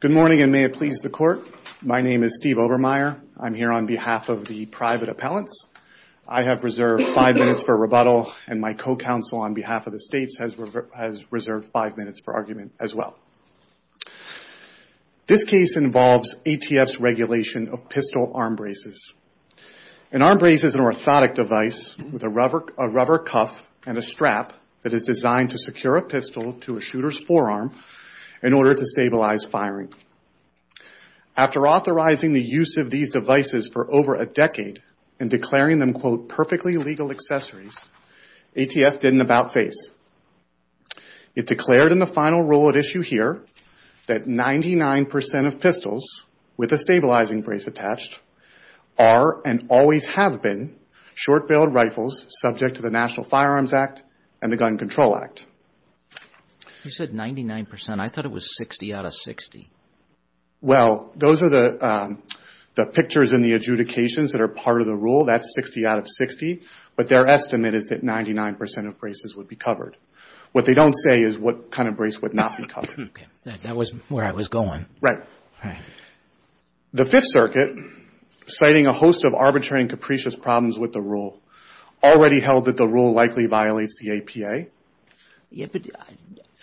Good morning, and may it please the Court. My name is Steve Obermeyer. I'm here on behalf of the private appellants. I have reserved five minutes for rebuttal, and my co-counsel on behalf of the States has reserved five minutes for argument as well. This case involves ATF's regulation of pistol arm braces. An arm brace is an orthotic device with a rubber cuff and a strap that is designed to secure a pistol to a shooter's forearm in order to stabilize firing. After authorizing the use of these devices for over a decade and declaring them, quote, perfectly legal accessories, ATF didn't about-face. It declared in the final rule at issue here that 99 percent of pistols with a stabilizing brace attached are and always have been short-billed rifles subject to the National Firearms Act and the Gun Control Act. You said 99 percent. I thought it was 60 out of 60. Well, those are the pictures in the adjudications that are part of the rule. That's 60 out of 60, but their estimate is that 99 percent of braces would be covered. What they don't say is what kind of brace would not be covered. Okay. That was where I was going. Right. The Fifth Circuit, citing a host of arbitrary and capricious problems with the rule, already held that the rule likely violates the APA. Yeah, but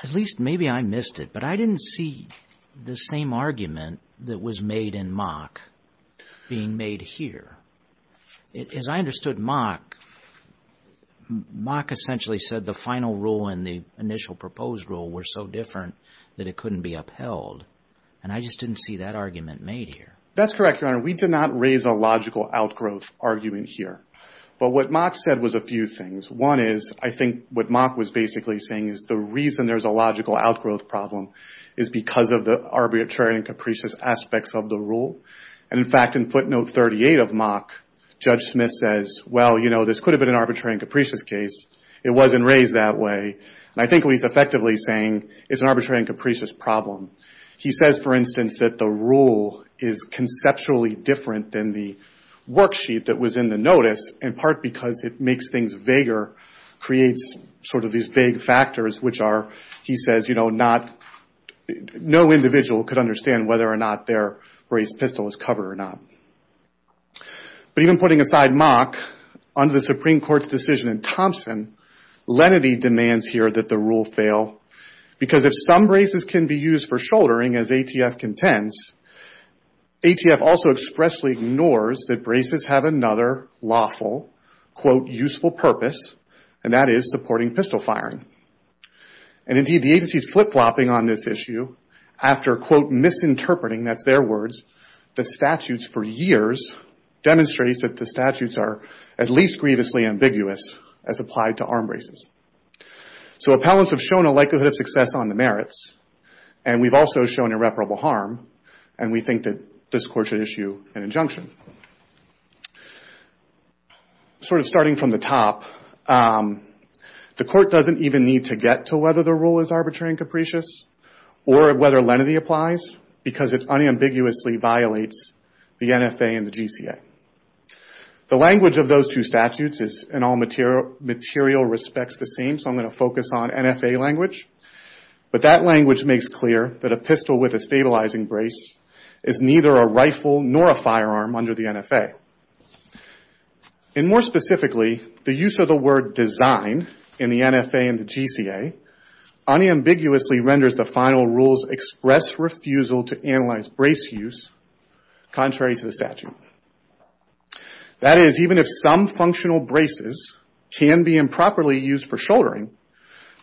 at least maybe I missed it, but I didn't see the same argument that was made in Mock being made here. As I understood Mock, Mock essentially said the final rule and the APA. I just didn't see that argument made here. That's correct, Your Honor. We did not raise a logical outgrowth argument here, but what Mock said was a few things. One is, I think what Mock was basically saying is the reason there's a logical outgrowth problem is because of the arbitrary and capricious aspects of the rule. In fact, in footnote 38 of Mock, Judge Smith says, well, you know, this could have been an arbitrary and capricious case. It wasn't raised that way. I think what he's effectively saying is an arbitrary and capricious problem. He says, for instance, that the rule is conceptually different than the worksheet that was in the notice, in part because it makes things vaguer, creates sort of these vague factors, which are, he says, you know, no individual could understand whether or not their raised pistol was covered or not. But even putting aside Mock, under the Supreme Court's decision in Thompson, lenity demands here that the rule fail because if some braces can be used for shouldering as ATF contends, ATF also expressly ignores that braces have another lawful, quote, useful purpose, and that is supporting pistol firing. And indeed, the agency is flip-flopping on this issue after, quote, misinterpreting, that's their words, the statutes for years, demonstrates that the statutes are at least grievously ambiguous as applied to arm braces. So appellants have shown a likelihood of success on the merits, and we've also shown irreparable harm, and we think that this Court should issue an injunction. Sort of starting from the top, the Court doesn't even need to get to whether the rule is arbitrary and capricious or whether lenity applies because it unambiguously violates the NFA and the GCA. The language of those two statutes is in all material respects the same, so I'm going to focus on NFA language. But that language makes clear that a pistol with a stabilizing brace is neither a rifle nor a firearm under the NFA. And more specifically, the use of the word design in the NFA and the GCA unambiguously renders the final rules express refusal to that is even if some functional braces can be improperly used for shouldering,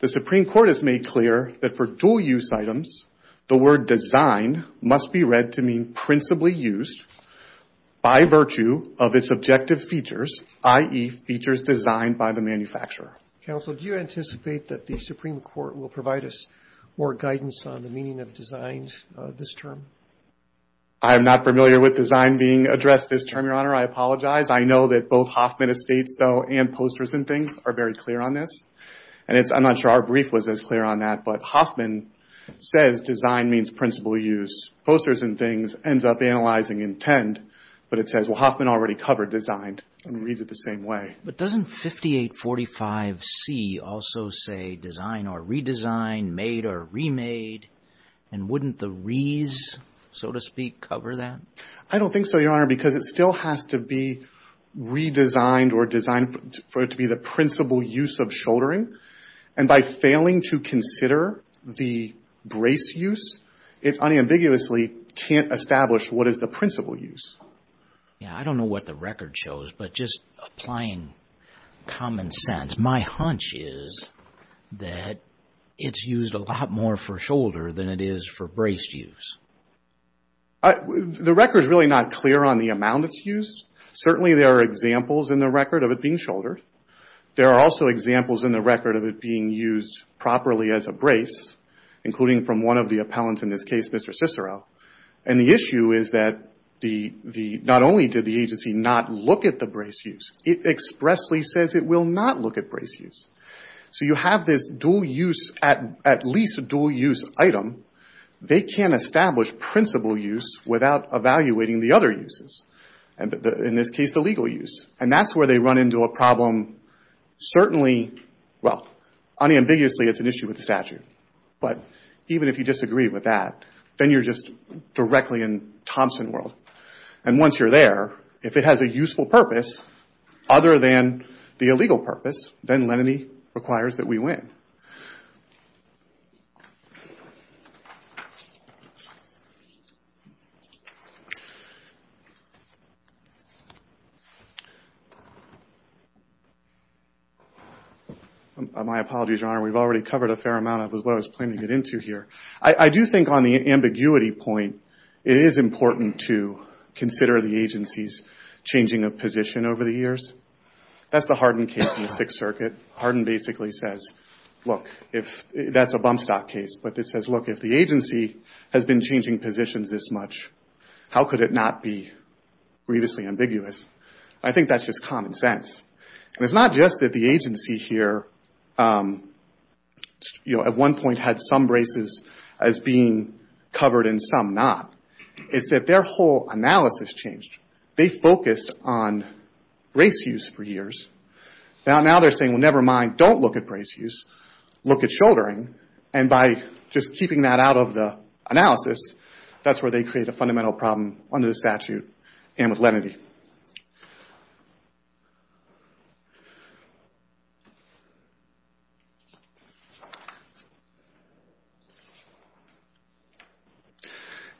the Supreme Court has made clear that for dual-use items, the word design must be read to mean principally used by virtue of its objective features, i.e., features designed by the manufacturer. Counsel, do you anticipate that the Supreme Court will provide us more guidance on the meaning of design this term? I am not familiar with design being addressed this term, Your Honor. I apologize. I know that both Hoffman Estates though and Posters and Things are very clear on this. And I'm not sure our brief was as clear on that, but Hoffman says design means principal use. Posters and Things ends up analyzing intent, but it says, well, Hoffman already covered designed and reads it the same way. But doesn't 5845C also say design or redesign, made or remade, and wouldn't the re's be so to speak cover that? I don't think so, Your Honor, because it still has to be redesigned or designed for it to be the principal use of shouldering. And by failing to consider the brace use, it unambiguously can't establish what is the principal use. Yeah, I don't know what the record shows, but just applying common sense, my hunch is that it's used a lot more for shoulder than it is for brace use. The record is really not clear on the amount it's used. Certainly there are examples in the record of it being shouldered. There are also examples in the record of it being used properly as a brace, including from one of the appellants in this case, Mr. Cicero. And the issue is that not only did the agency not look at the brace use, it expressly says it will not look at brace use. So you have this at least dual use item. They can't establish principal use without evaluating the other uses. In this case, the legal use. And that's where they run into a problem. Certainly, well, unambiguously it's an issue with the statute. But even if you disagree with that, then you're just directly in Thompson world. And once you're there, if it has a legal purpose, then lenity requires that we win. My apologies, Your Honor. We've already covered a fair amount of what I was planning to get into here. I do think on the ambiguity point, it is important to consider the agency's changing of position over the years. That's the Hardin case in the Sixth Circuit. Hardin basically says, look, that's a bump stock case. But it says, look, if the agency has been changing positions this much, how could it not be grievously ambiguous? I think that's just common sense. And it's not just that the agency here at one point had some braces as being covered and some not. It's that their whole analysis changed. They focused on brace use for years. Now they're saying, well, never mind. Don't look at brace use. Look at shouldering. And by just keeping that out of the analysis, that's where they create a fundamental problem under the statute and with lenity.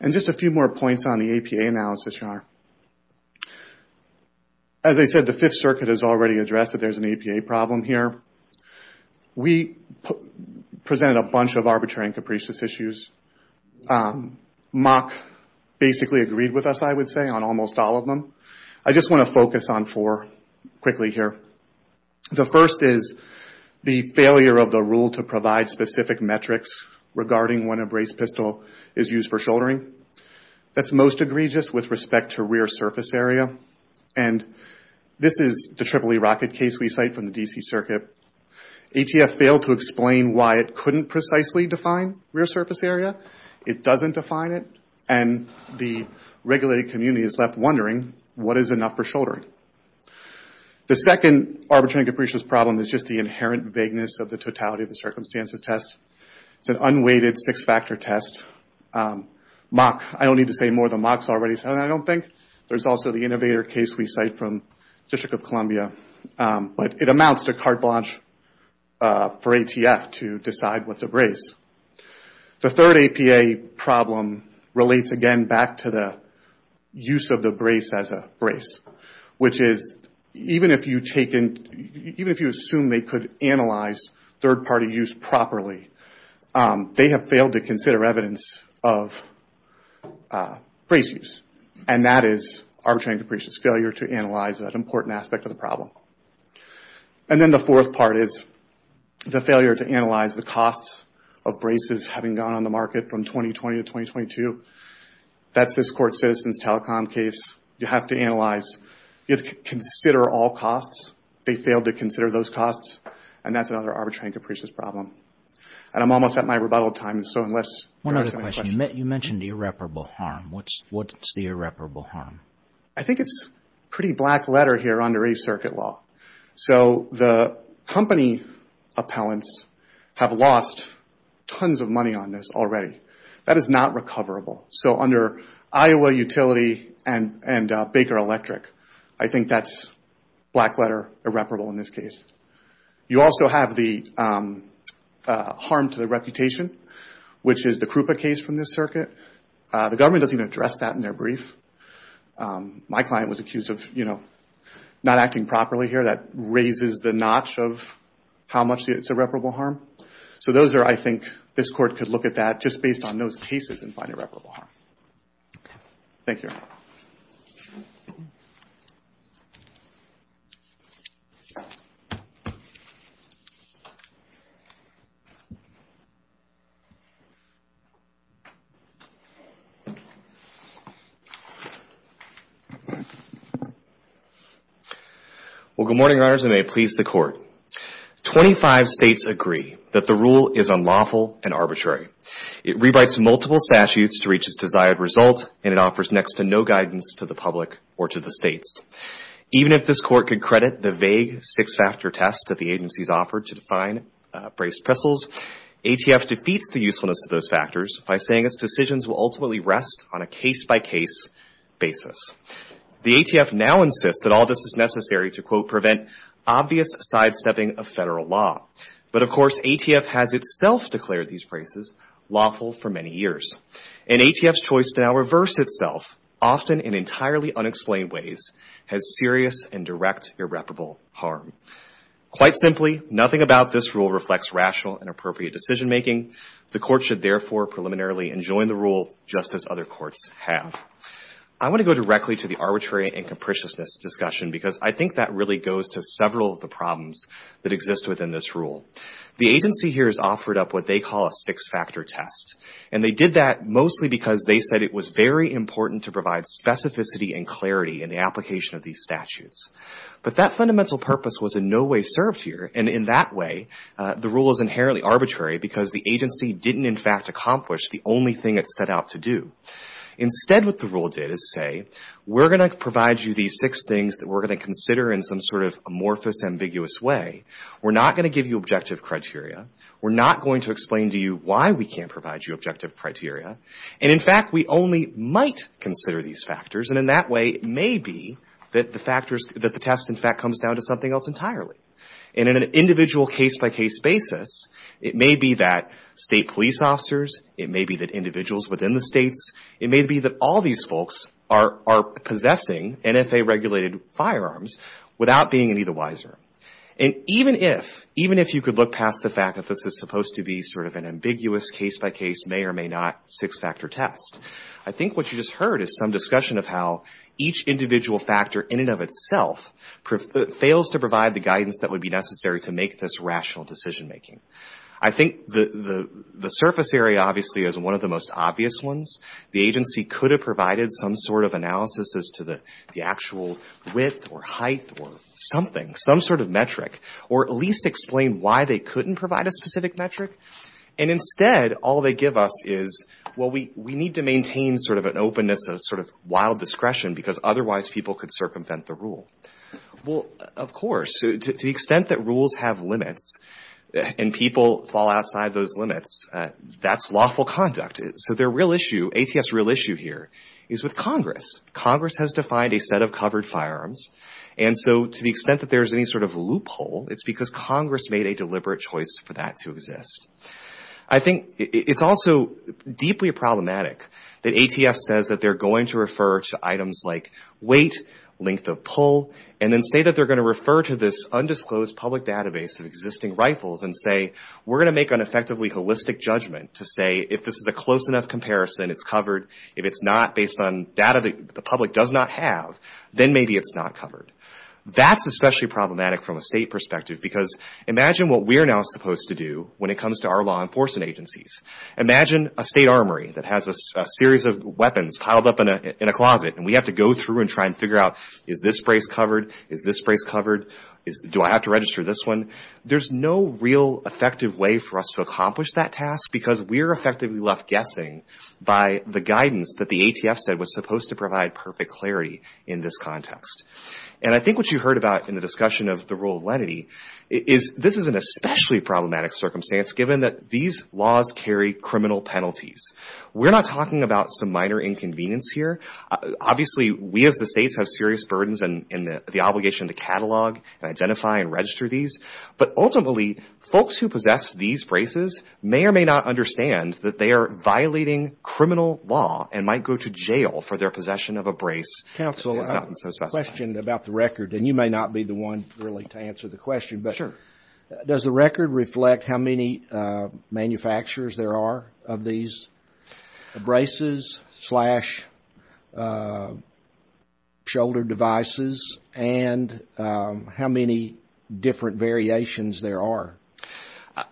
And just a few more points on the APA analysis, Your Honor. As I said, the Fifth Circuit has already addressed that there's an APA problem here. We presented a bunch of arbitrary and capricious issues. Mock basically agreed with us, I would say, on almost all of them. I just want to focus on four quickly here. The first is the failure of the rule to provide specific metrics regarding when a brace pistol is used for shouldering. That's most egregious with respect to rear surface area. And this is the EEE rocket case we cite from the D.C. Circuit. ATF failed to explain why it couldn't precisely define rear surface area. It doesn't define it. And the regulated community is left wondering, what is enough for shouldering? The second arbitrary and capricious problem is just the inherent vagueness of the totality of the circumstances test. It's an unweighted six-factor test. Mock, I don't need to say more than Mock's already said, I don't think. There's also the innovator case we cite from District of Columbia. But it amounts to carte blanche for ATF to decide what's a brace. The third APA problem relates again back to the use of the brace as a brace, which is even if you assume they could analyze third-party use properly, they have failed to consider evidence of brace use. And that is arbitrary and capricious failure to analyze that important aspect of the problem. And then the fourth part is the failure to analyze the costs of braces having gone on the market from 2020 to 2022. That's this all costs. They failed to consider those costs. And that's another arbitrary and capricious problem. And I'm almost at my rebuttal time, so unless there are some questions. You mentioned irreparable harm. What's the irreparable harm? I think it's a pretty black letter here under a circuit law. So the company appellants have lost tons of money on this already. That is not recoverable. So under Iowa Utility and Baker Electric, I think that's black letter irreparable in this case. You also have the harm to the reputation, which is the Krupa case from this circuit. The government doesn't even address that in their brief. My client was accused of not acting properly here. That raises the notch of how much it's irreparable harm. So those are I think this court could look at that just based on those cases and find irreparable harm. Thank you. Well good morning, your honors, and may it please the court. Twenty-five states agree that the rule is unlawful and arbitrary. It rewrites multiple statutes to reach its desired result, and it offers next to no guidance to the public or to the states. Even if this court could credit the vague six-factor test that the agencies offered to define braced pistols, ATF defeats the usefulness of those factors by saying its decisions will ultimately rest on a case-by-case basis. The ATF now insists that all this is necessary to quote a federal law. But of course ATF has itself declared these braces lawful for many years. And ATF's choice to now reverse itself, often in entirely unexplained ways, has serious and direct irreparable harm. Quite simply, nothing about this rule reflects rational and appropriate decision-making. The court should therefore preliminarily enjoin the rule just as other courts have. I want to go directly to the arbitrary and capriciousness discussion because I think that really goes to several of the problems that exist within this rule. The agency here has offered up what they call a six-factor test, and they did that mostly because they said it was very important to provide specificity and clarity in the application of these statutes. But that fundamental purpose was in no way served here, and in that way the rule is inherently arbitrary because the agency didn't in fact accomplish the only thing it set out to do. Instead what the rule did is say, we're going to provide you these six things that we're going to consider in some sort of amorphous, ambiguous way. We're not going to give you objective criteria. We're not going to explain to you why we can't provide you objective criteria. And in fact we only might consider these factors, and in that way it may be that the test in fact comes down to something else entirely. And in an individual case-by-case basis, it may be that state police officers, it may be that individuals within the states, it may be that all these folks are possessing NFA-regulated firearms without being any the wiser. And even if you could look past the fact that this is supposed to be sort of an ambiguous case-by-case, may or may not six-factor test, I think what you just heard is some discussion of how each individual factor in and of itself fails to provide the guidance that would be necessary to make this rational decision-making. I think the surface area obviously is one of the most obvious ones. The agency could have provided some sort of analysis as to the actual width or height or something, some sort of metric, or at least explain why they couldn't provide a specific metric. And instead all they give us is, well, we need to maintain sort of an openness, a sort of wild discretion, because otherwise people could circumvent the rule. Well, of course, to the extent that rules have limits and people fall outside those is with Congress. Congress has defined a set of covered firearms. And so to the extent that there's any sort of loophole, it's because Congress made a deliberate choice for that to exist. I think it's also deeply problematic that ATF says that they're going to refer to items like weight, length of pull, and then say that they're going to refer to this undisclosed public database of existing rifles and say, we're going to make an effectively holistic judgment to say, if this is a close enough comparison, it's covered. If it's not based on data that the public does not have, then maybe it's not covered. That's especially problematic from a state perspective, because imagine what we're now supposed to do when it comes to our law enforcement agencies. Imagine a state armory that has a series of weapons piled up in a closet, and we have to go through and try and figure out, is this brace covered? Is this brace covered? Do I have to register this one? There's no real effective way for us to accomplish that task, because we're effectively left guessing by the guidance that the ATF said was supposed to provide perfect clarity in this context. And I think what you heard about in the discussion of the rule of lenity is this is an especially problematic circumstance, given that these laws carry criminal penalties. We're not talking about some minor inconvenience here. Obviously, we as the states have serious burdens in the But ultimately, folks who possess these braces may or may not understand that they are violating criminal law and might go to jail for their possession of a brace. Counsel, I have a question about the record, and you may not be the one really to answer the question. Sure. Does the record reflect how many manufacturers there are of these braces slash shoulder devices, and how many different variations there are?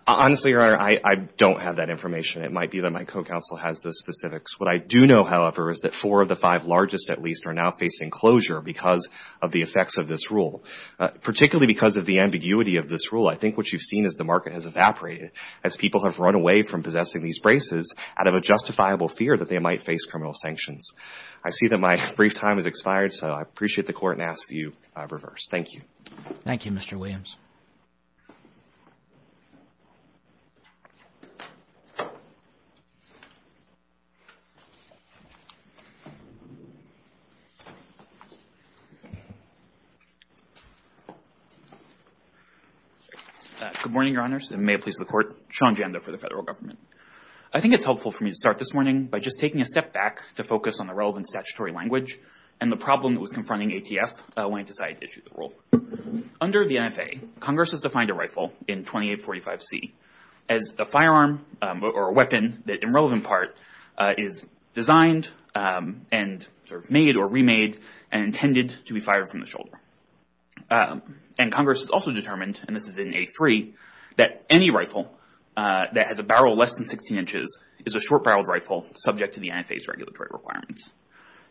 Honestly, Your Honor, I don't have that information. It might be that my co-counsel has the specifics. What I do know, however, is that four of the five largest, at least, are now facing closure because of the effects of this rule, particularly because of the ambiguity of this rule. I think what you've seen is the market has evaporated as people have run away from possessing these braces out of a justifiable fear that they might face criminal sanctions. I see that my brief time has expired, so I appreciate the court and ask that you reverse. Thank you. Thank you, Mr. Williams. Good morning, Your Honors, and may it please the Court. Sean Janda for the Federal Government. I think it's helpful for me to start this morning by just taking a step back to focus on the relevant statutory language and the problem that was confronting ATF when it decided to issue the rule. Under the NFA, Congress has defined a rifle in 2845C as a firearm or a weapon that in relevant part is designed and made or remade and intended to be fired from the shoulder. And Congress has also determined, and this is in A3, that any rifle that has a barrel less than 16 inches is a short-barreled rifle subject to the NFA's regulatory requirements.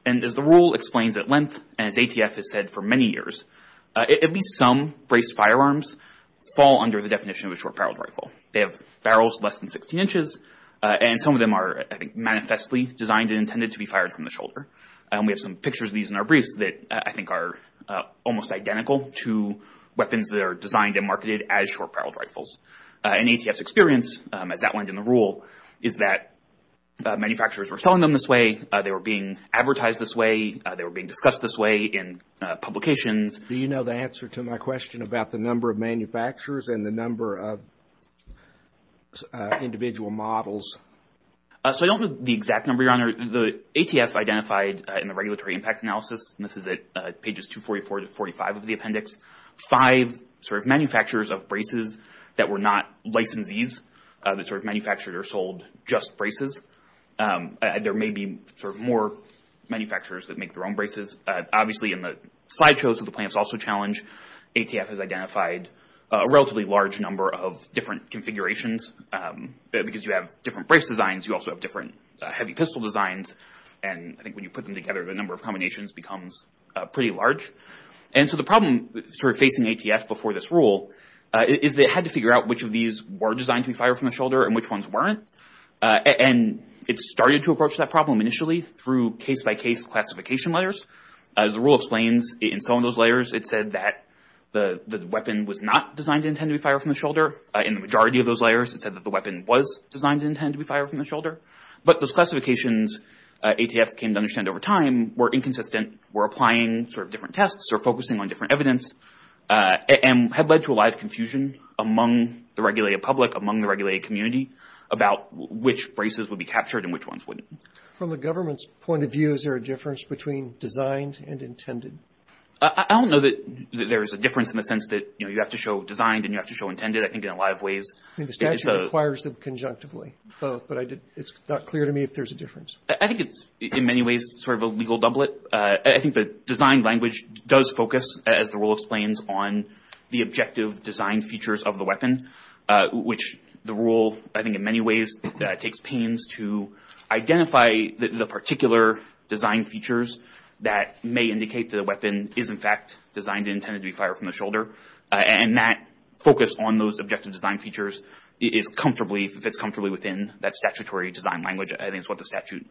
And as the rule explains at length, and as ATF has said for many years, at least some braced firearms fall under the definition of a short-barreled rifle. They have barrels less than 16 inches, and some of them are, I think, manifestly designed and intended to be fired from the shoulder. We have some pictures of these in our briefs that I think are almost identical to weapons that are designed and marketed as short-barreled rifles. And ATF's experience, as outlined in the rule, is that manufacturers were selling them this way, they were being advertised this way, they were being discussed this way in publications. Do you know the answer to my question about the number of manufacturers and the number of individual models? So I don't know the exact number, Your Honor. The ATF identified in the regulatory impact analysis, and this is at pages 244 to 245 of the appendix, five manufacturers of braces that were not licensees, that manufactured or sold just braces. There may be more manufacturers that make their own braces. Obviously in the slideshows that the plaintiffs also challenge, ATF has identified a relatively large number of different configurations, because you have different brace designs, you also have different heavy pistol designs, and I think when you put them together the number of combinations becomes pretty large. And so the problem facing ATF before this rule is that it had to figure out which of these were designed to be fired from the shoulder and which ones weren't, and it started to approach that problem initially through case-by-case classification layers. As the rule explains, in some of those layers it said that the weapon was not designed to intend to be fired from the shoulder, in the majority of those layers it said that the weapon was designed to intend to be fired from the shoulder. But those classifications ATF came to understand over time were inconsistent, were applying sort of different tests or focusing on different evidence, and had led to a lot of confusion among the regulated public, among the regulated community, about which braces would be captured and which ones wouldn't. From the government's point of view, is there a difference between designed and intended? I don't know that there's a difference in the sense that, you know, you have to show designed and you have to show intended. I think in a lot of ways... I mean, the statute requires them conjunctively, both, but it's not clear to me if there's a difference. I think it's in many ways sort of a legal doublet. I think the design language does focus, as the rule explains, on the objective design features of the weapon, which the rule, I think in many ways, takes pains to identify the particular design features that may indicate that a weapon is in fact designed and intended to be fired from the shoulder. And that focus on those objective design features is comfortably, fits comfortably within that statutory design language. I think it's what the statute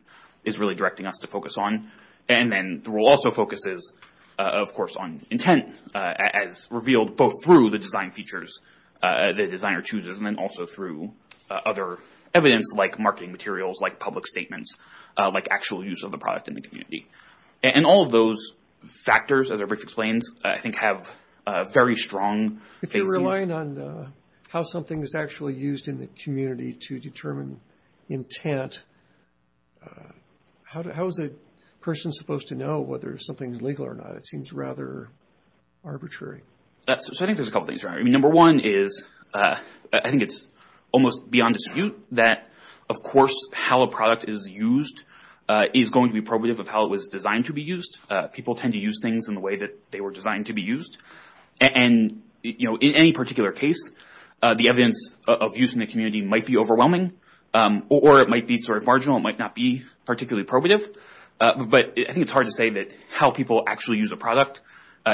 is really directing us to focus on. And then the rule also focuses, of course, on intent, as revealed both through the design features the designer chooses, and then also through other evidence, like marketing materials, like public statements, like actual use of the product in the community. And all of those factors, as our brief explains, I think have very strong phases. If you're relying on how something is actually used in the community to determine intent, how is a person supposed to know whether something is legal or not? It seems rather arbitrary. So I think there's a couple things here. Number one is, I think it's almost beyond dispute that, of course, how a product is used is going to be probative of how it was designed to be used. People tend to use things in the way that they were designed to be used. And in any particular case, the evidence of use in the community might be overwhelming, or it might be sort of marginal, it might not be particularly probative. But I think it's hard to say that how people actually use a product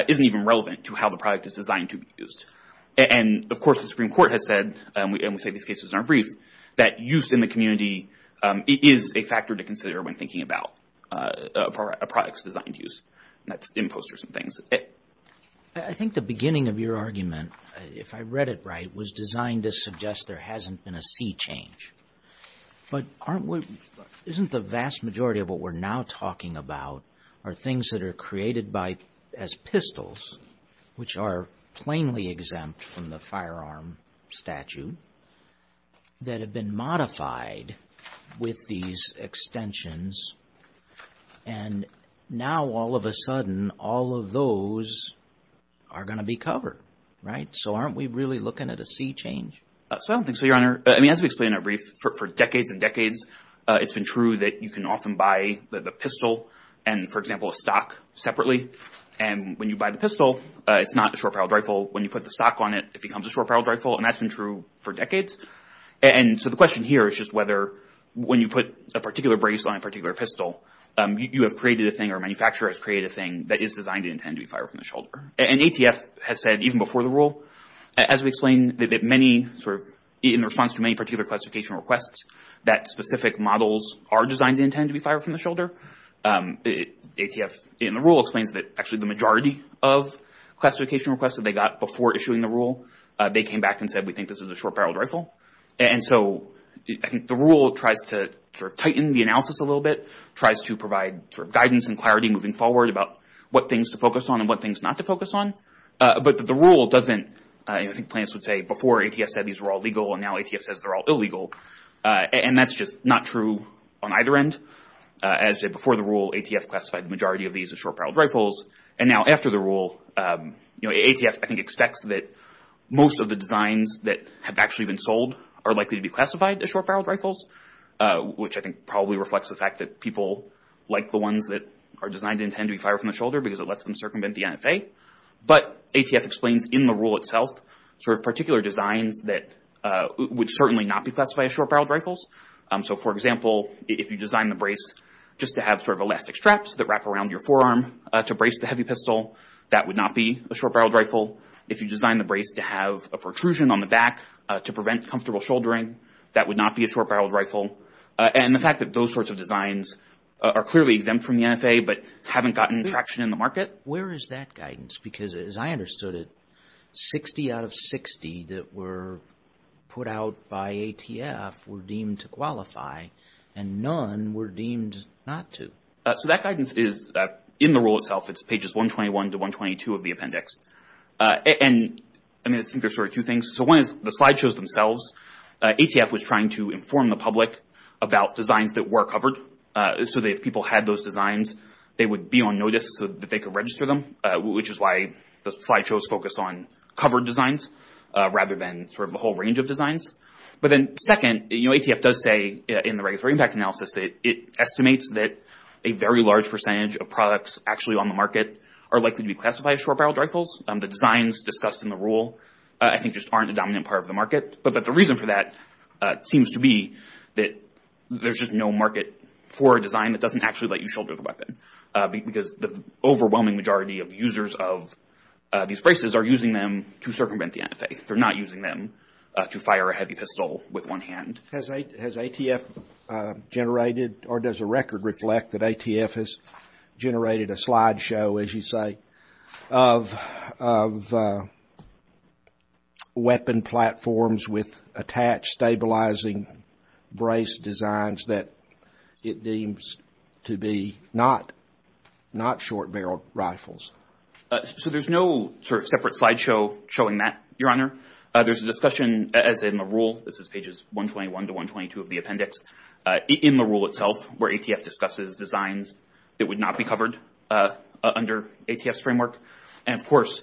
isn't even relevant to how the product is designed to be used. And of course, the Supreme Court has said, and we say these cases in our brief, that use in the community is a factor to consider when thinking about a product's designed use. That's imposters and things. I think the beginning of your argument, if I read it right, was designed to suggest there But isn't the vast majority of what we're now talking about are things that are created by, as pistols, which are plainly exempt from the firearm statute, that have been modified with these extensions, and now all of a sudden, all of those are going to be covered, right? So aren't we really looking at a sea change? So I don't think so, Your Honor. I mean, as we explained in our brief, for decades and decades, it's been true that you can often buy the pistol and, for example, a stock separately, and when you buy the pistol, it's not a short-barreled rifle. When you put the stock on it, it becomes a short-barreled rifle, and that's been true for decades. And so the question here is just whether, when you put a particular brace on a particular pistol, you have created a thing, or a manufacturer has created a thing, that is designed and intended to be fired from the shoulder. And ATF has said, even before the rule, as we explained, that many, in response to many particular classification requests, that specific models are designed and intended to be fired from the shoulder. ATF, in the rule, explains that actually the majority of classification requests that they got before issuing the rule, they came back and said, we think this is a short-barreled rifle. And so I think the rule tries to tighten the analysis a little bit, tries to provide guidance and clarity moving forward about what things to focus on and what things not to focus on. But the rule doesn't, I think plants would say, before ATF said these were all legal, and now ATF says they're all illegal. And that's just not true on either end. As before the rule, ATF classified the majority of these as short-barreled rifles, and now after the rule, ATF, I think, expects that most of the designs that have actually been sold are likely to be classified as short-barreled rifles, which I think probably reflects the are designed and intended to be fired from the shoulder because it lets them circumvent the NFA. But ATF explains in the rule itself sort of particular designs that would certainly not be classified as short-barreled rifles. So for example, if you design the brace just to have sort of elastic straps that wrap around your forearm to brace the heavy pistol, that would not be a short-barreled rifle. If you design the brace to have a protrusion on the back to prevent comfortable shouldering, that would not be a short-barreled rifle. And the fact that those sorts of designs are clearly exempt from the NFA but haven't gotten traction in the market. Where is that guidance? Because as I understood it, 60 out of 60 that were put out by ATF were deemed to qualify, and none were deemed not to. So that guidance is in the rule itself. It's pages 121 to 122 of the appendix. And I think there's sort of two things. So one is the slide shows themselves. ATF was trying to inform the public about designs that were covered. So if people had those designs, they would be on notice so that they could register them, which is why the slide shows focus on covered designs rather than sort of a whole range of designs. But then second, you know, ATF does say in the regulatory impact analysis that it estimates that a very large percentage of products actually on the market are likely to be classified as short-barreled rifles. The designs discussed in the rule I think just aren't a dominant part of the market. But the reason for that seems to be that there's just no market for a design that doesn't actually let you shoulder the weapon. Because the overwhelming majority of users of these braces are using them to circumvent the NFA. They're not using them to fire a heavy pistol with one hand. Has ATF generated or does the record reflect that ATF has generated a slide show, as you with attached stabilizing brace designs that it deems to be not short-barreled rifles? So there's no sort of separate slide show showing that, Your Honor. There's a discussion, as in the rule, this is pages 121 to 122 of the appendix, in the rule itself where ATF discusses designs that would not be covered under ATF's framework. And of course,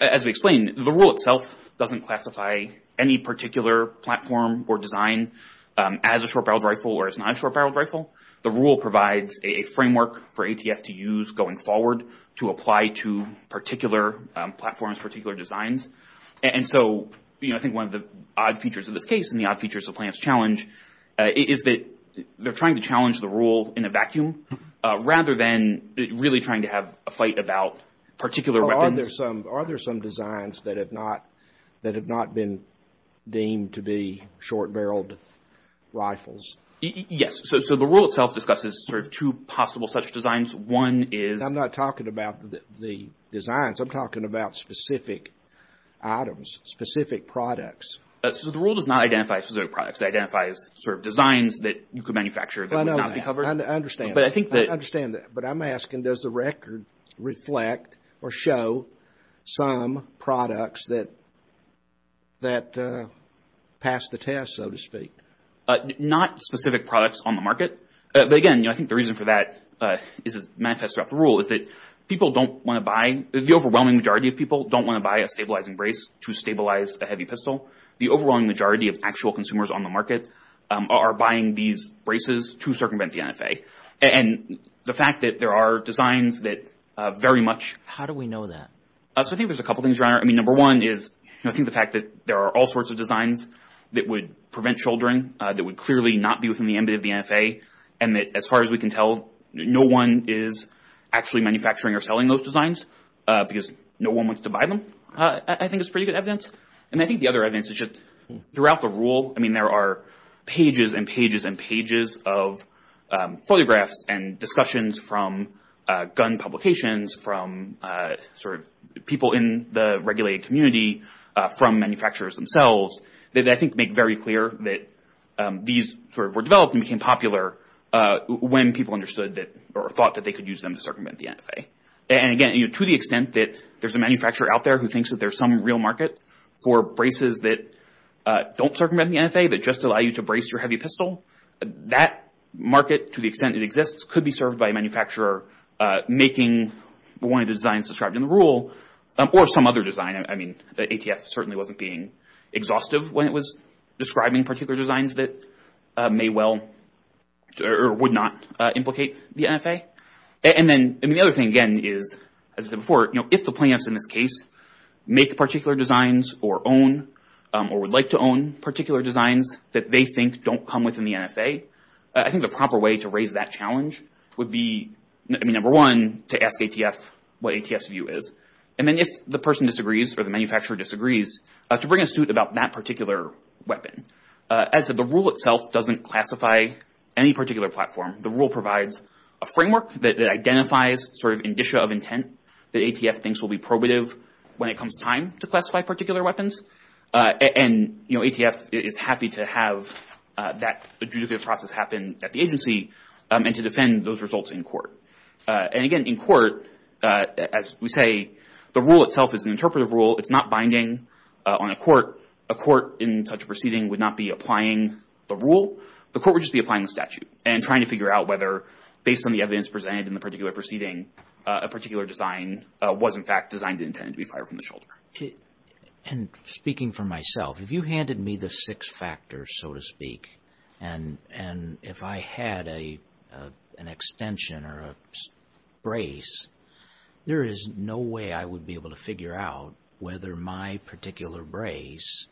as we explained, the rule itself doesn't classify any particular platform or design as a short-barreled rifle or as not a short-barreled rifle. The rule provides a framework for ATF to use going forward to apply to particular platforms, particular designs. And so I think one of the odd features of this case and the odd features of Plants Challenge is that they're trying to challenge the rule in a vacuum rather than really trying to have a fight about particular weapons. Are there some designs that have not been deemed to be short-barreled rifles? Yes. So the rule itself discusses sort of two possible such designs. One is... I'm not talking about the designs. I'm talking about specific items, specific products. So the rule does not identify specific products. It identifies sort of designs that you could manufacture that would not be covered. I understand. But I think that... I understand that. But I'm asking, does the record reflect or show some products that pass the test, so to speak? Not specific products on the market. But again, you know, I think the reason for that is it manifests throughout the rule is that people don't want to buy... The overwhelming majority of people don't want to buy a stabilizing brace to stabilize a heavy pistol. The overwhelming majority of actual consumers on the market are buying these braces to circumvent the NFA. And the fact that there are designs that very much... How do we know that? So I think there's a couple things around it. I mean, number one is, you know, I think the fact that there are all sorts of designs that would prevent shouldering, that would clearly not be within the ambit of the NFA, and that as far as we can tell, no one is actually manufacturing or selling those designs because no one wants to buy them, I think is pretty good evidence. And I think the other evidence is just throughout the rule, I mean, there are pages and pages of photographs and discussions from gun publications, from sort of people in the regulated community, from manufacturers themselves, that I think make very clear that these sort of were developed and became popular when people understood that or thought that they could use them to circumvent the NFA. And again, you know, to the extent that there's a manufacturer out there who thinks that there's some real market for braces that don't circumvent the NFA that just allow you to brace your heavy pistol, that market, to the extent it exists, could be served by a manufacturer making one of the designs described in the rule or some other design. I mean, the ATF certainly wasn't being exhaustive when it was describing particular designs that may well or would not implicate the NFA. And then the other thing, again, is, as I said before, you know, if the plaintiffs in this case make particular designs or own or would like to own particular designs that they think don't come within the NFA, I think the proper way to raise that challenge would be, number one, to ask ATF what ATF's view is. And then if the person disagrees or the manufacturer disagrees, to bring a suit about that particular weapon. As the rule itself doesn't classify any particular platform, the rule provides a framework that identifies sort of indicia of intent that ATF thinks will be probative when it comes time to classify particular weapons. And you know, ATF is happy to have that adjudicative process happen at the agency and to defend those results in court. And again, in court, as we say, the rule itself is an interpretive rule. It's not binding on a court. A court in such a proceeding would not be applying the rule. The court would just be applying the statute and trying to figure out whether, based on the evidence presented in the particular proceeding, a particular design was, in fact, designed to be fired from the shoulder. And speaking for myself, if you handed me the six factors, so to speak, and if I had an extension or a brace, there is no way I would be able to figure out whether my particular brace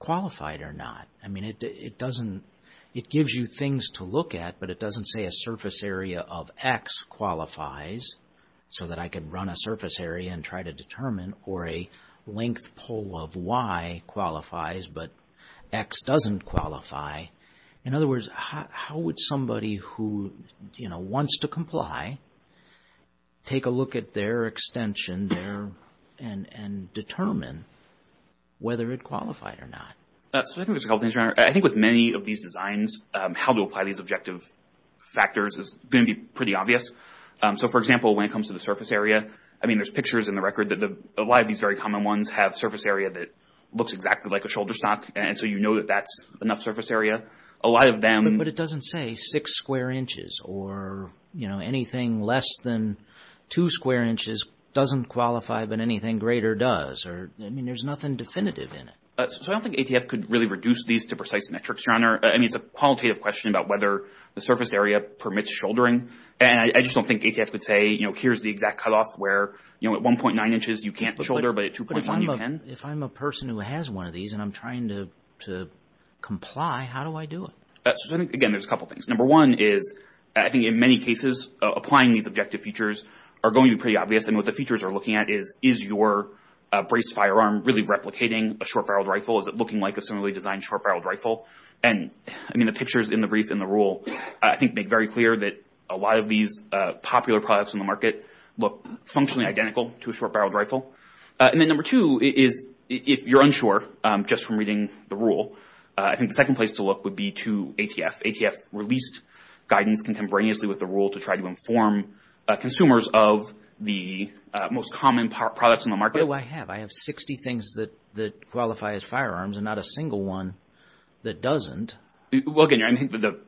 qualified or not. I mean, it doesn't, it gives you things to look at, but it doesn't say a surface area of X qualifies, so that I can run a surface area and try to determine, or a length pole of Y qualifies, but X doesn't qualify. In other words, how would somebody who, you know, wants to comply, take a look at their extension there and determine whether it qualified or not? So I think there's a couple things there. I think with many of these designs, how to apply these objective factors is going to be pretty obvious. So, for example, when it comes to the surface area, I mean, there's pictures in the record that a lot of these very common ones have surface area that looks exactly like a shoulder stock, and so you know that that's enough surface area. A lot of them... But it doesn't say six square inches or, you know, anything less than two square inches doesn't qualify, but anything greater does, or I mean, there's nothing definitive in it. So I don't think ATF could really reduce these to precise metrics, Your Honor. I mean, it's a qualitative question about whether the surface area permits shouldering, and I just don't think ATF would say, you know, here's the exact cutoff where, you know, at 1.9 inches, you can't shoulder, but at 2.1, you can. If I'm a person who has one of these and I'm trying to comply, how do I do it? Again, there's a couple things. Number one is, I think in many cases, applying these objective features are going to be pretty obvious, and what the features are looking at is, is your braced firearm really replicating a short-barreled rifle? Is it looking like a similarly designed short-barreled rifle? And I mean, the pictures in the brief in the rule, I think, make very clear that a lot of these popular products in the market look functionally identical to a short-barreled rifle. And then number two is, if you're unsure just from reading the rule, I think the second place to look would be to ATF. ATF released guidance contemporaneously with the rule to try to inform consumers of the most common products in the market. What do I have? I have 60 things that qualify as firearms and not a single one that doesn't. Well, again, I think the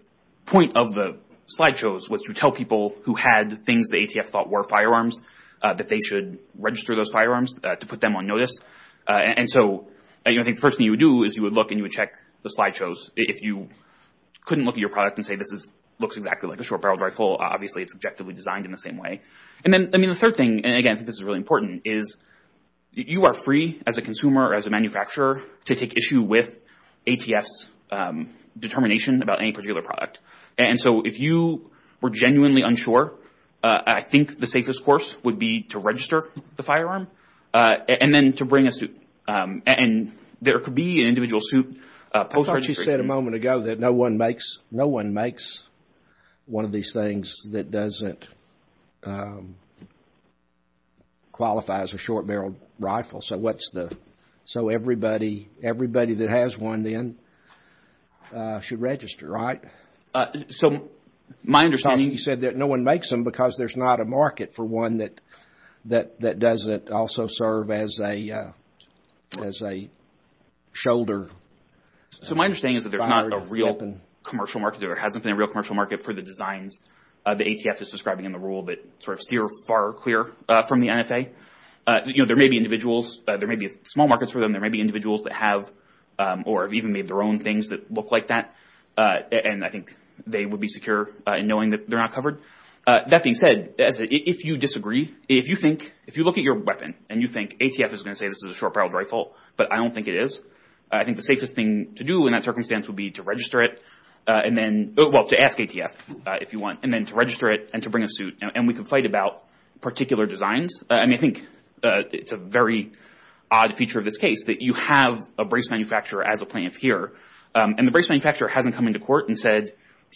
point of the slideshows was to tell people who had things that ATF thought were firearms that they should register those firearms to put them on notice. And so I think the first thing you would do is you would look and you would check the slideshows. If you couldn't look at your product and say, this looks exactly like a short-barreled rifle, obviously it's objectively designed in the same way. And then, I mean, the third thing, and again, I think this is really important, is you are free as a consumer or as a manufacturer to take issue with ATF's determination about any particular product. And so if you were genuinely unsure, I think the safest course would be to register the firearm and then to bring a suit. And there could be an individual suit post-registration. You said a moment ago that no one makes one of these things that doesn't qualify as a short-barreled rifle. So what's the... So everybody that has one, then, should register, right? So my understanding... You said that no one makes them because there's not a market for one that doesn't also serve as a shoulder. So my understanding is that there's not a real commercial market or hasn't been a real commercial market for the designs that ATF is describing in the rule that steer far clear from the NFA. You know, there may be individuals, there may be small markets for them, there may be individuals that have or have even made their own things that look like that. And I think they would be secure in knowing that they're not covered. That being said, if you disagree, if you think... If you look at your weapon and you think ATF is going to say this is a short-barreled rifle, but I don't think it is. I think the safest thing to do in that circumstance would be to register it and then... Well, to ask ATF, if you want, and then to register it and to bring a suit. And we can fight about particular designs. I mean, I think it's a very odd feature of this case that you have a brace manufacturer as a plaintiff here, and the brace manufacturer hasn't come into court and said,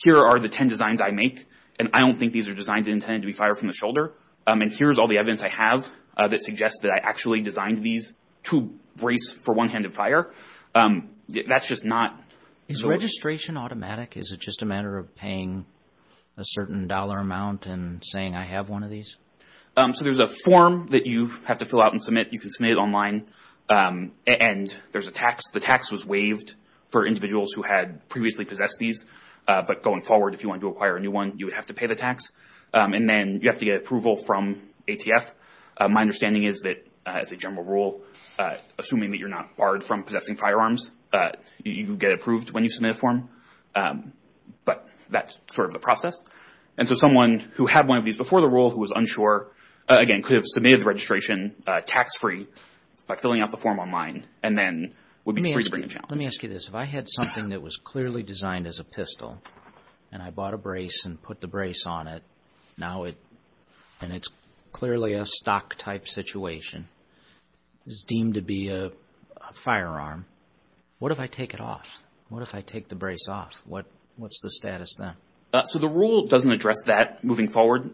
here are the 10 designs I make, and I don't think these are designed to be intended to be fired from the shoulder. And here's all the evidence I have that suggests that I actually designed these to brace for one-handed fire. That's just not... Is registration automatic? Is it just a matter of paying a certain dollar amount and saying, I have one of these? So there's a form that you have to fill out and submit. You can submit it online. And there's a tax. The tax was waived for individuals who had previously possessed these. But going forward, if you wanted to acquire a new one, you would have to pay the tax. And then you have to get approval from ATF. My understanding is that, as a general rule, assuming that you're not barred from possessing firearms, you get approved when you submit a form. But that's sort of the process. And so someone who had one of these before the rule, who was unsure, again, could have submitted the registration tax-free by filling out the form online, and then would be free to bring a challenge. Let me ask you this. If I had something that was clearly designed as a pistol, and I bought a brace and put the brace on it, and it's clearly a stock-type situation, it's deemed to be a firearm, what if I take it off? What if I take the brace off? What's the status then? So the rule doesn't address that moving forward.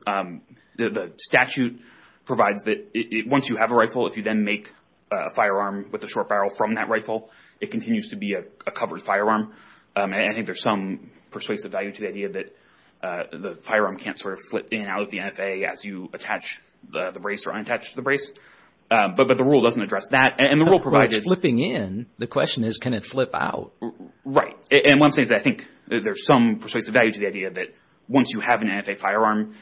The statute provides that once you have a rifle, if you then make a firearm with a short barrel from that rifle, it continues to be a covered firearm. I think there's some persuasive value to the idea that the firearm can't sort of flip in and out of the NFA as you attach the brace or unattach the brace. But the rule doesn't address that. And the rule provides... But if it's flipping in, the question is, can it flip out? Right. And what I'm saying is that I think there's some persuasive value to the idea that once you have an NFA firearm,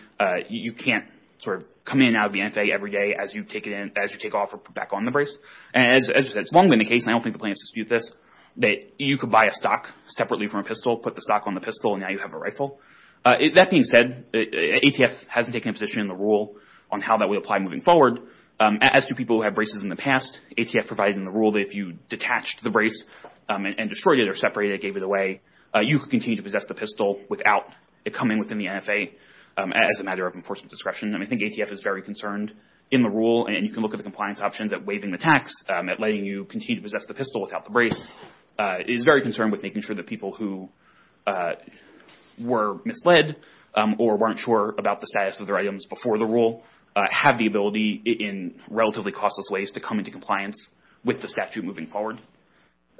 you can't sort of come in and out of the NFA every day as you take it in, as you take off or put back on the brace. And it's long been the case, and I don't think the plaintiffs dispute this, that you could buy a stock separately from a pistol, put the stock on the pistol, and now you have a rifle. That being said, ATF hasn't taken a position in the rule on how that would apply moving forward. As to people who have braces in the past, ATF provided in the rule that if you detached the brace and destroyed it or separated it, gave it away, you could continue to possess the pistol without it coming within the NFA as a matter of enforcement discretion. And I think ATF is very concerned in the rule, and you can look at the compliance options at waiving the tax, at letting you continue to possess the pistol without the brace, is very concerned with making sure that people who were misled or weren't sure about the status of their items before the rule have the ability in relatively costless ways to come into compliance with the statute moving forward.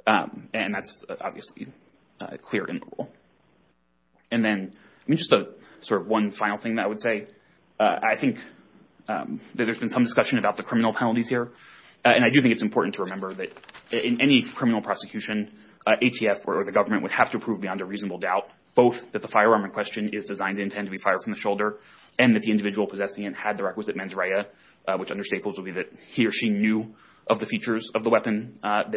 And that's obviously clear in the rule. And then just one final thing that I would say. I think that there's been some discussion about the criminal penalties here, and I do think it's important to remember that in any criminal prosecution, ATF or the government would have to prove beyond a reasonable doubt both that the firearm in question is designed to intend to be fired from the shoulder and that the individual possessing it had the requisite mens rea, which under staples would be that he or she knew of the features of the weapon that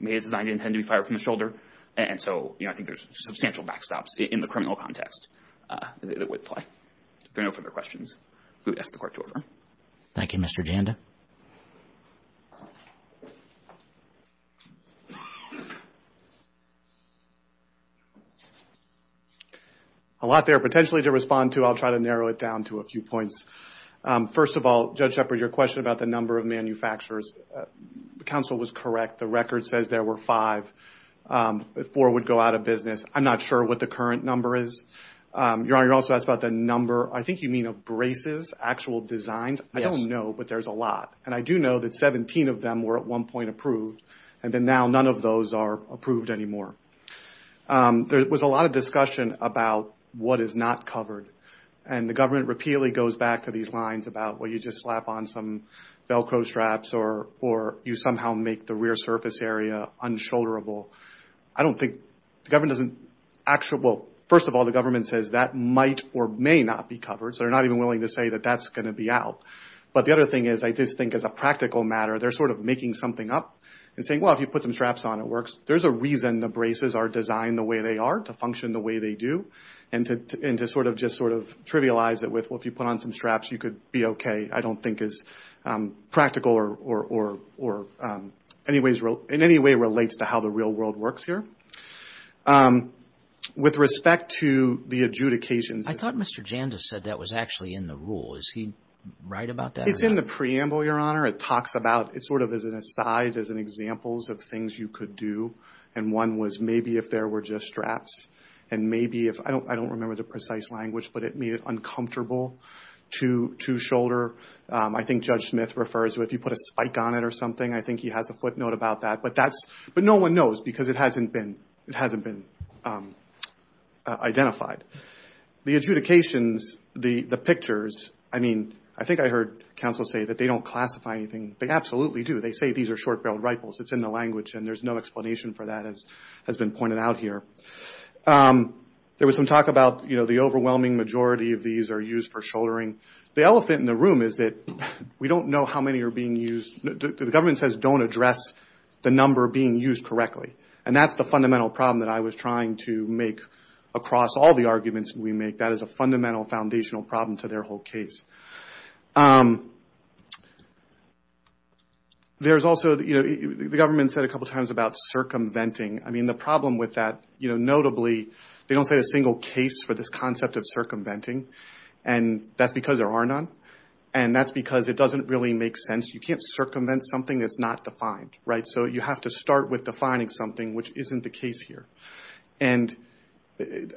may have been designed to be fired from the shoulder. And so, you know, I think there's substantial backstops in the criminal context that would apply. If there are no further questions, I will ask the Court to adjourn. Thank you, Mr. Janda. A lot there potentially to respond to. I'll try to narrow it down to a few points. First of all, Judge Shepard, your question about the number of manufacturers, the counsel was correct. The record says there were five, but four would go out of business. I'm not sure what the current number is. Your Honor, you also asked about the number, I think you mean of braces, actual designs. Yes. I don't know, but there's a lot. And I do know that 17 of them were at one point approved, and then now none of those are approved anymore. There was a lot of discussion about what is not covered. And the government repeatedly goes back to these lines about, well, you just slap on some Velcro straps or you somehow make the rear surface area unshoulderable. I don't think, the government doesn't actually, well, first of all, the government says that might or may not be covered, so they're not even willing to say that that's going to be allowed. But the other thing is, I just think as a practical matter, they're sort of making something up and saying, well, if you put some straps on, it works. There's a reason the braces are designed the way they are, to function the way they do, and to sort of just sort of trivialize it with, well, if you put on some straps, you could be okay. I don't think it's practical or in any way relates to how the real world works here. With respect to the adjudications. I thought Mr. Janda said that was actually in the rule. Is he right about that? It's in the preamble, Your Honor. It talks about, it's sort of as an aside, as an examples of things you could do. And one was maybe if there were just straps and maybe if, I don't remember the precise language, but it made it uncomfortable to shoulder. I think Judge Smith refers to if you put a spike on it or something, I think he has a footnote about that. But that's, but no one knows because it hasn't been, it hasn't been identified. The adjudications, the pictures, I mean, I think I heard counsel say that they don't classify anything. They absolutely do. They say these are short-barreled rifles. It's in the language and there's no explanation for that as has been pointed out here. There was some talk about, you know, the overwhelming majority of these are used for shouldering. The elephant in the room is that we don't know how many are being used. The government says don't address the number being used correctly. And that's the fundamental problem that I was trying to make across all the arguments we make. That is a fundamental foundational problem to their whole case. There's also, you know, the government said a couple times about circumventing. I mean, the problem with that, you know, notably they don't say a single case for this concept of circumventing. And that's because there are none. And that's because it doesn't really make sense. You can't circumvent something that's not defined, right? So you have to start with defining something which isn't the case here. And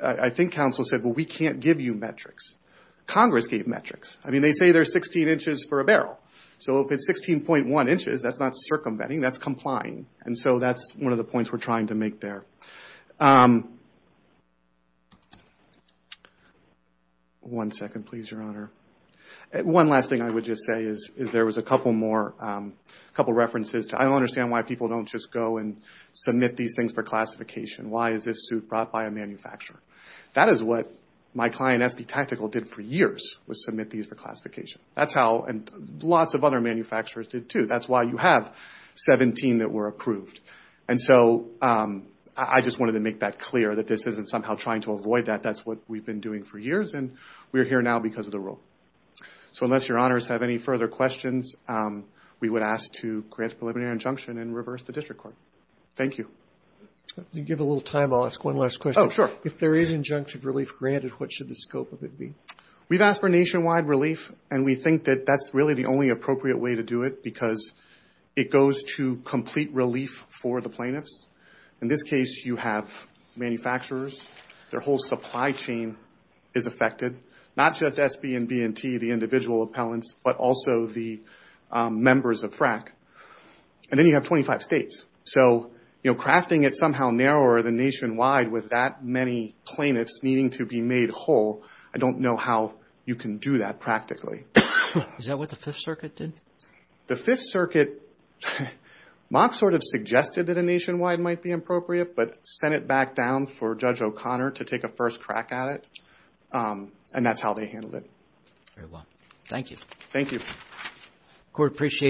I think counsel said, well, we can't give you metrics. Congress gave metrics. I mean, they say they're 16 inches for a barrel. So if it's 16.1 inches, that's not circumventing, that's complying. And so that's one of the points we're trying to make there. One second, please, Your Honor. One last thing I would just say is there was a couple more, a couple of references. I don't understand why people don't just go and submit these things for classification. Why is this suit brought by a manufacturer? That is what my client, SB Tactical, did for years, was submit these for classification. That's how lots of other manufacturers did, too. That's why you have 17 that were approved. And so I just wanted to make that clear, that this isn't somehow trying to avoid that. That's what we've been doing for years, and we're here now because of the rule. So unless Your Honors have any further questions, we would ask to grant a preliminary injunction and reverse the district court. Thank you. If you give a little time, I'll ask one last question. Oh, sure. If there is injunctive relief granted, what should the scope of it be? We've asked for nationwide relief, and we think that that's really the only appropriate way to do it, because it goes to complete relief for the plaintiffs. In this case, you have manufacturers, their whole supply chain is affected. Not just SB and B&T, the individual appellants, but also the members of FRAC. And then you have 25 states. So crafting it somehow narrower than nationwide with that many plaintiffs needing to be made whole, I don't know how you can do that practically. Is that what the Fifth Circuit did? The Fifth Circuit, Mock sort of suggested that a nationwide might be appropriate, but sent it back down for Judge O'Connor to take a first crack at it. And that's how they handled it. Very well. Thank you. Thank you. Court appreciated.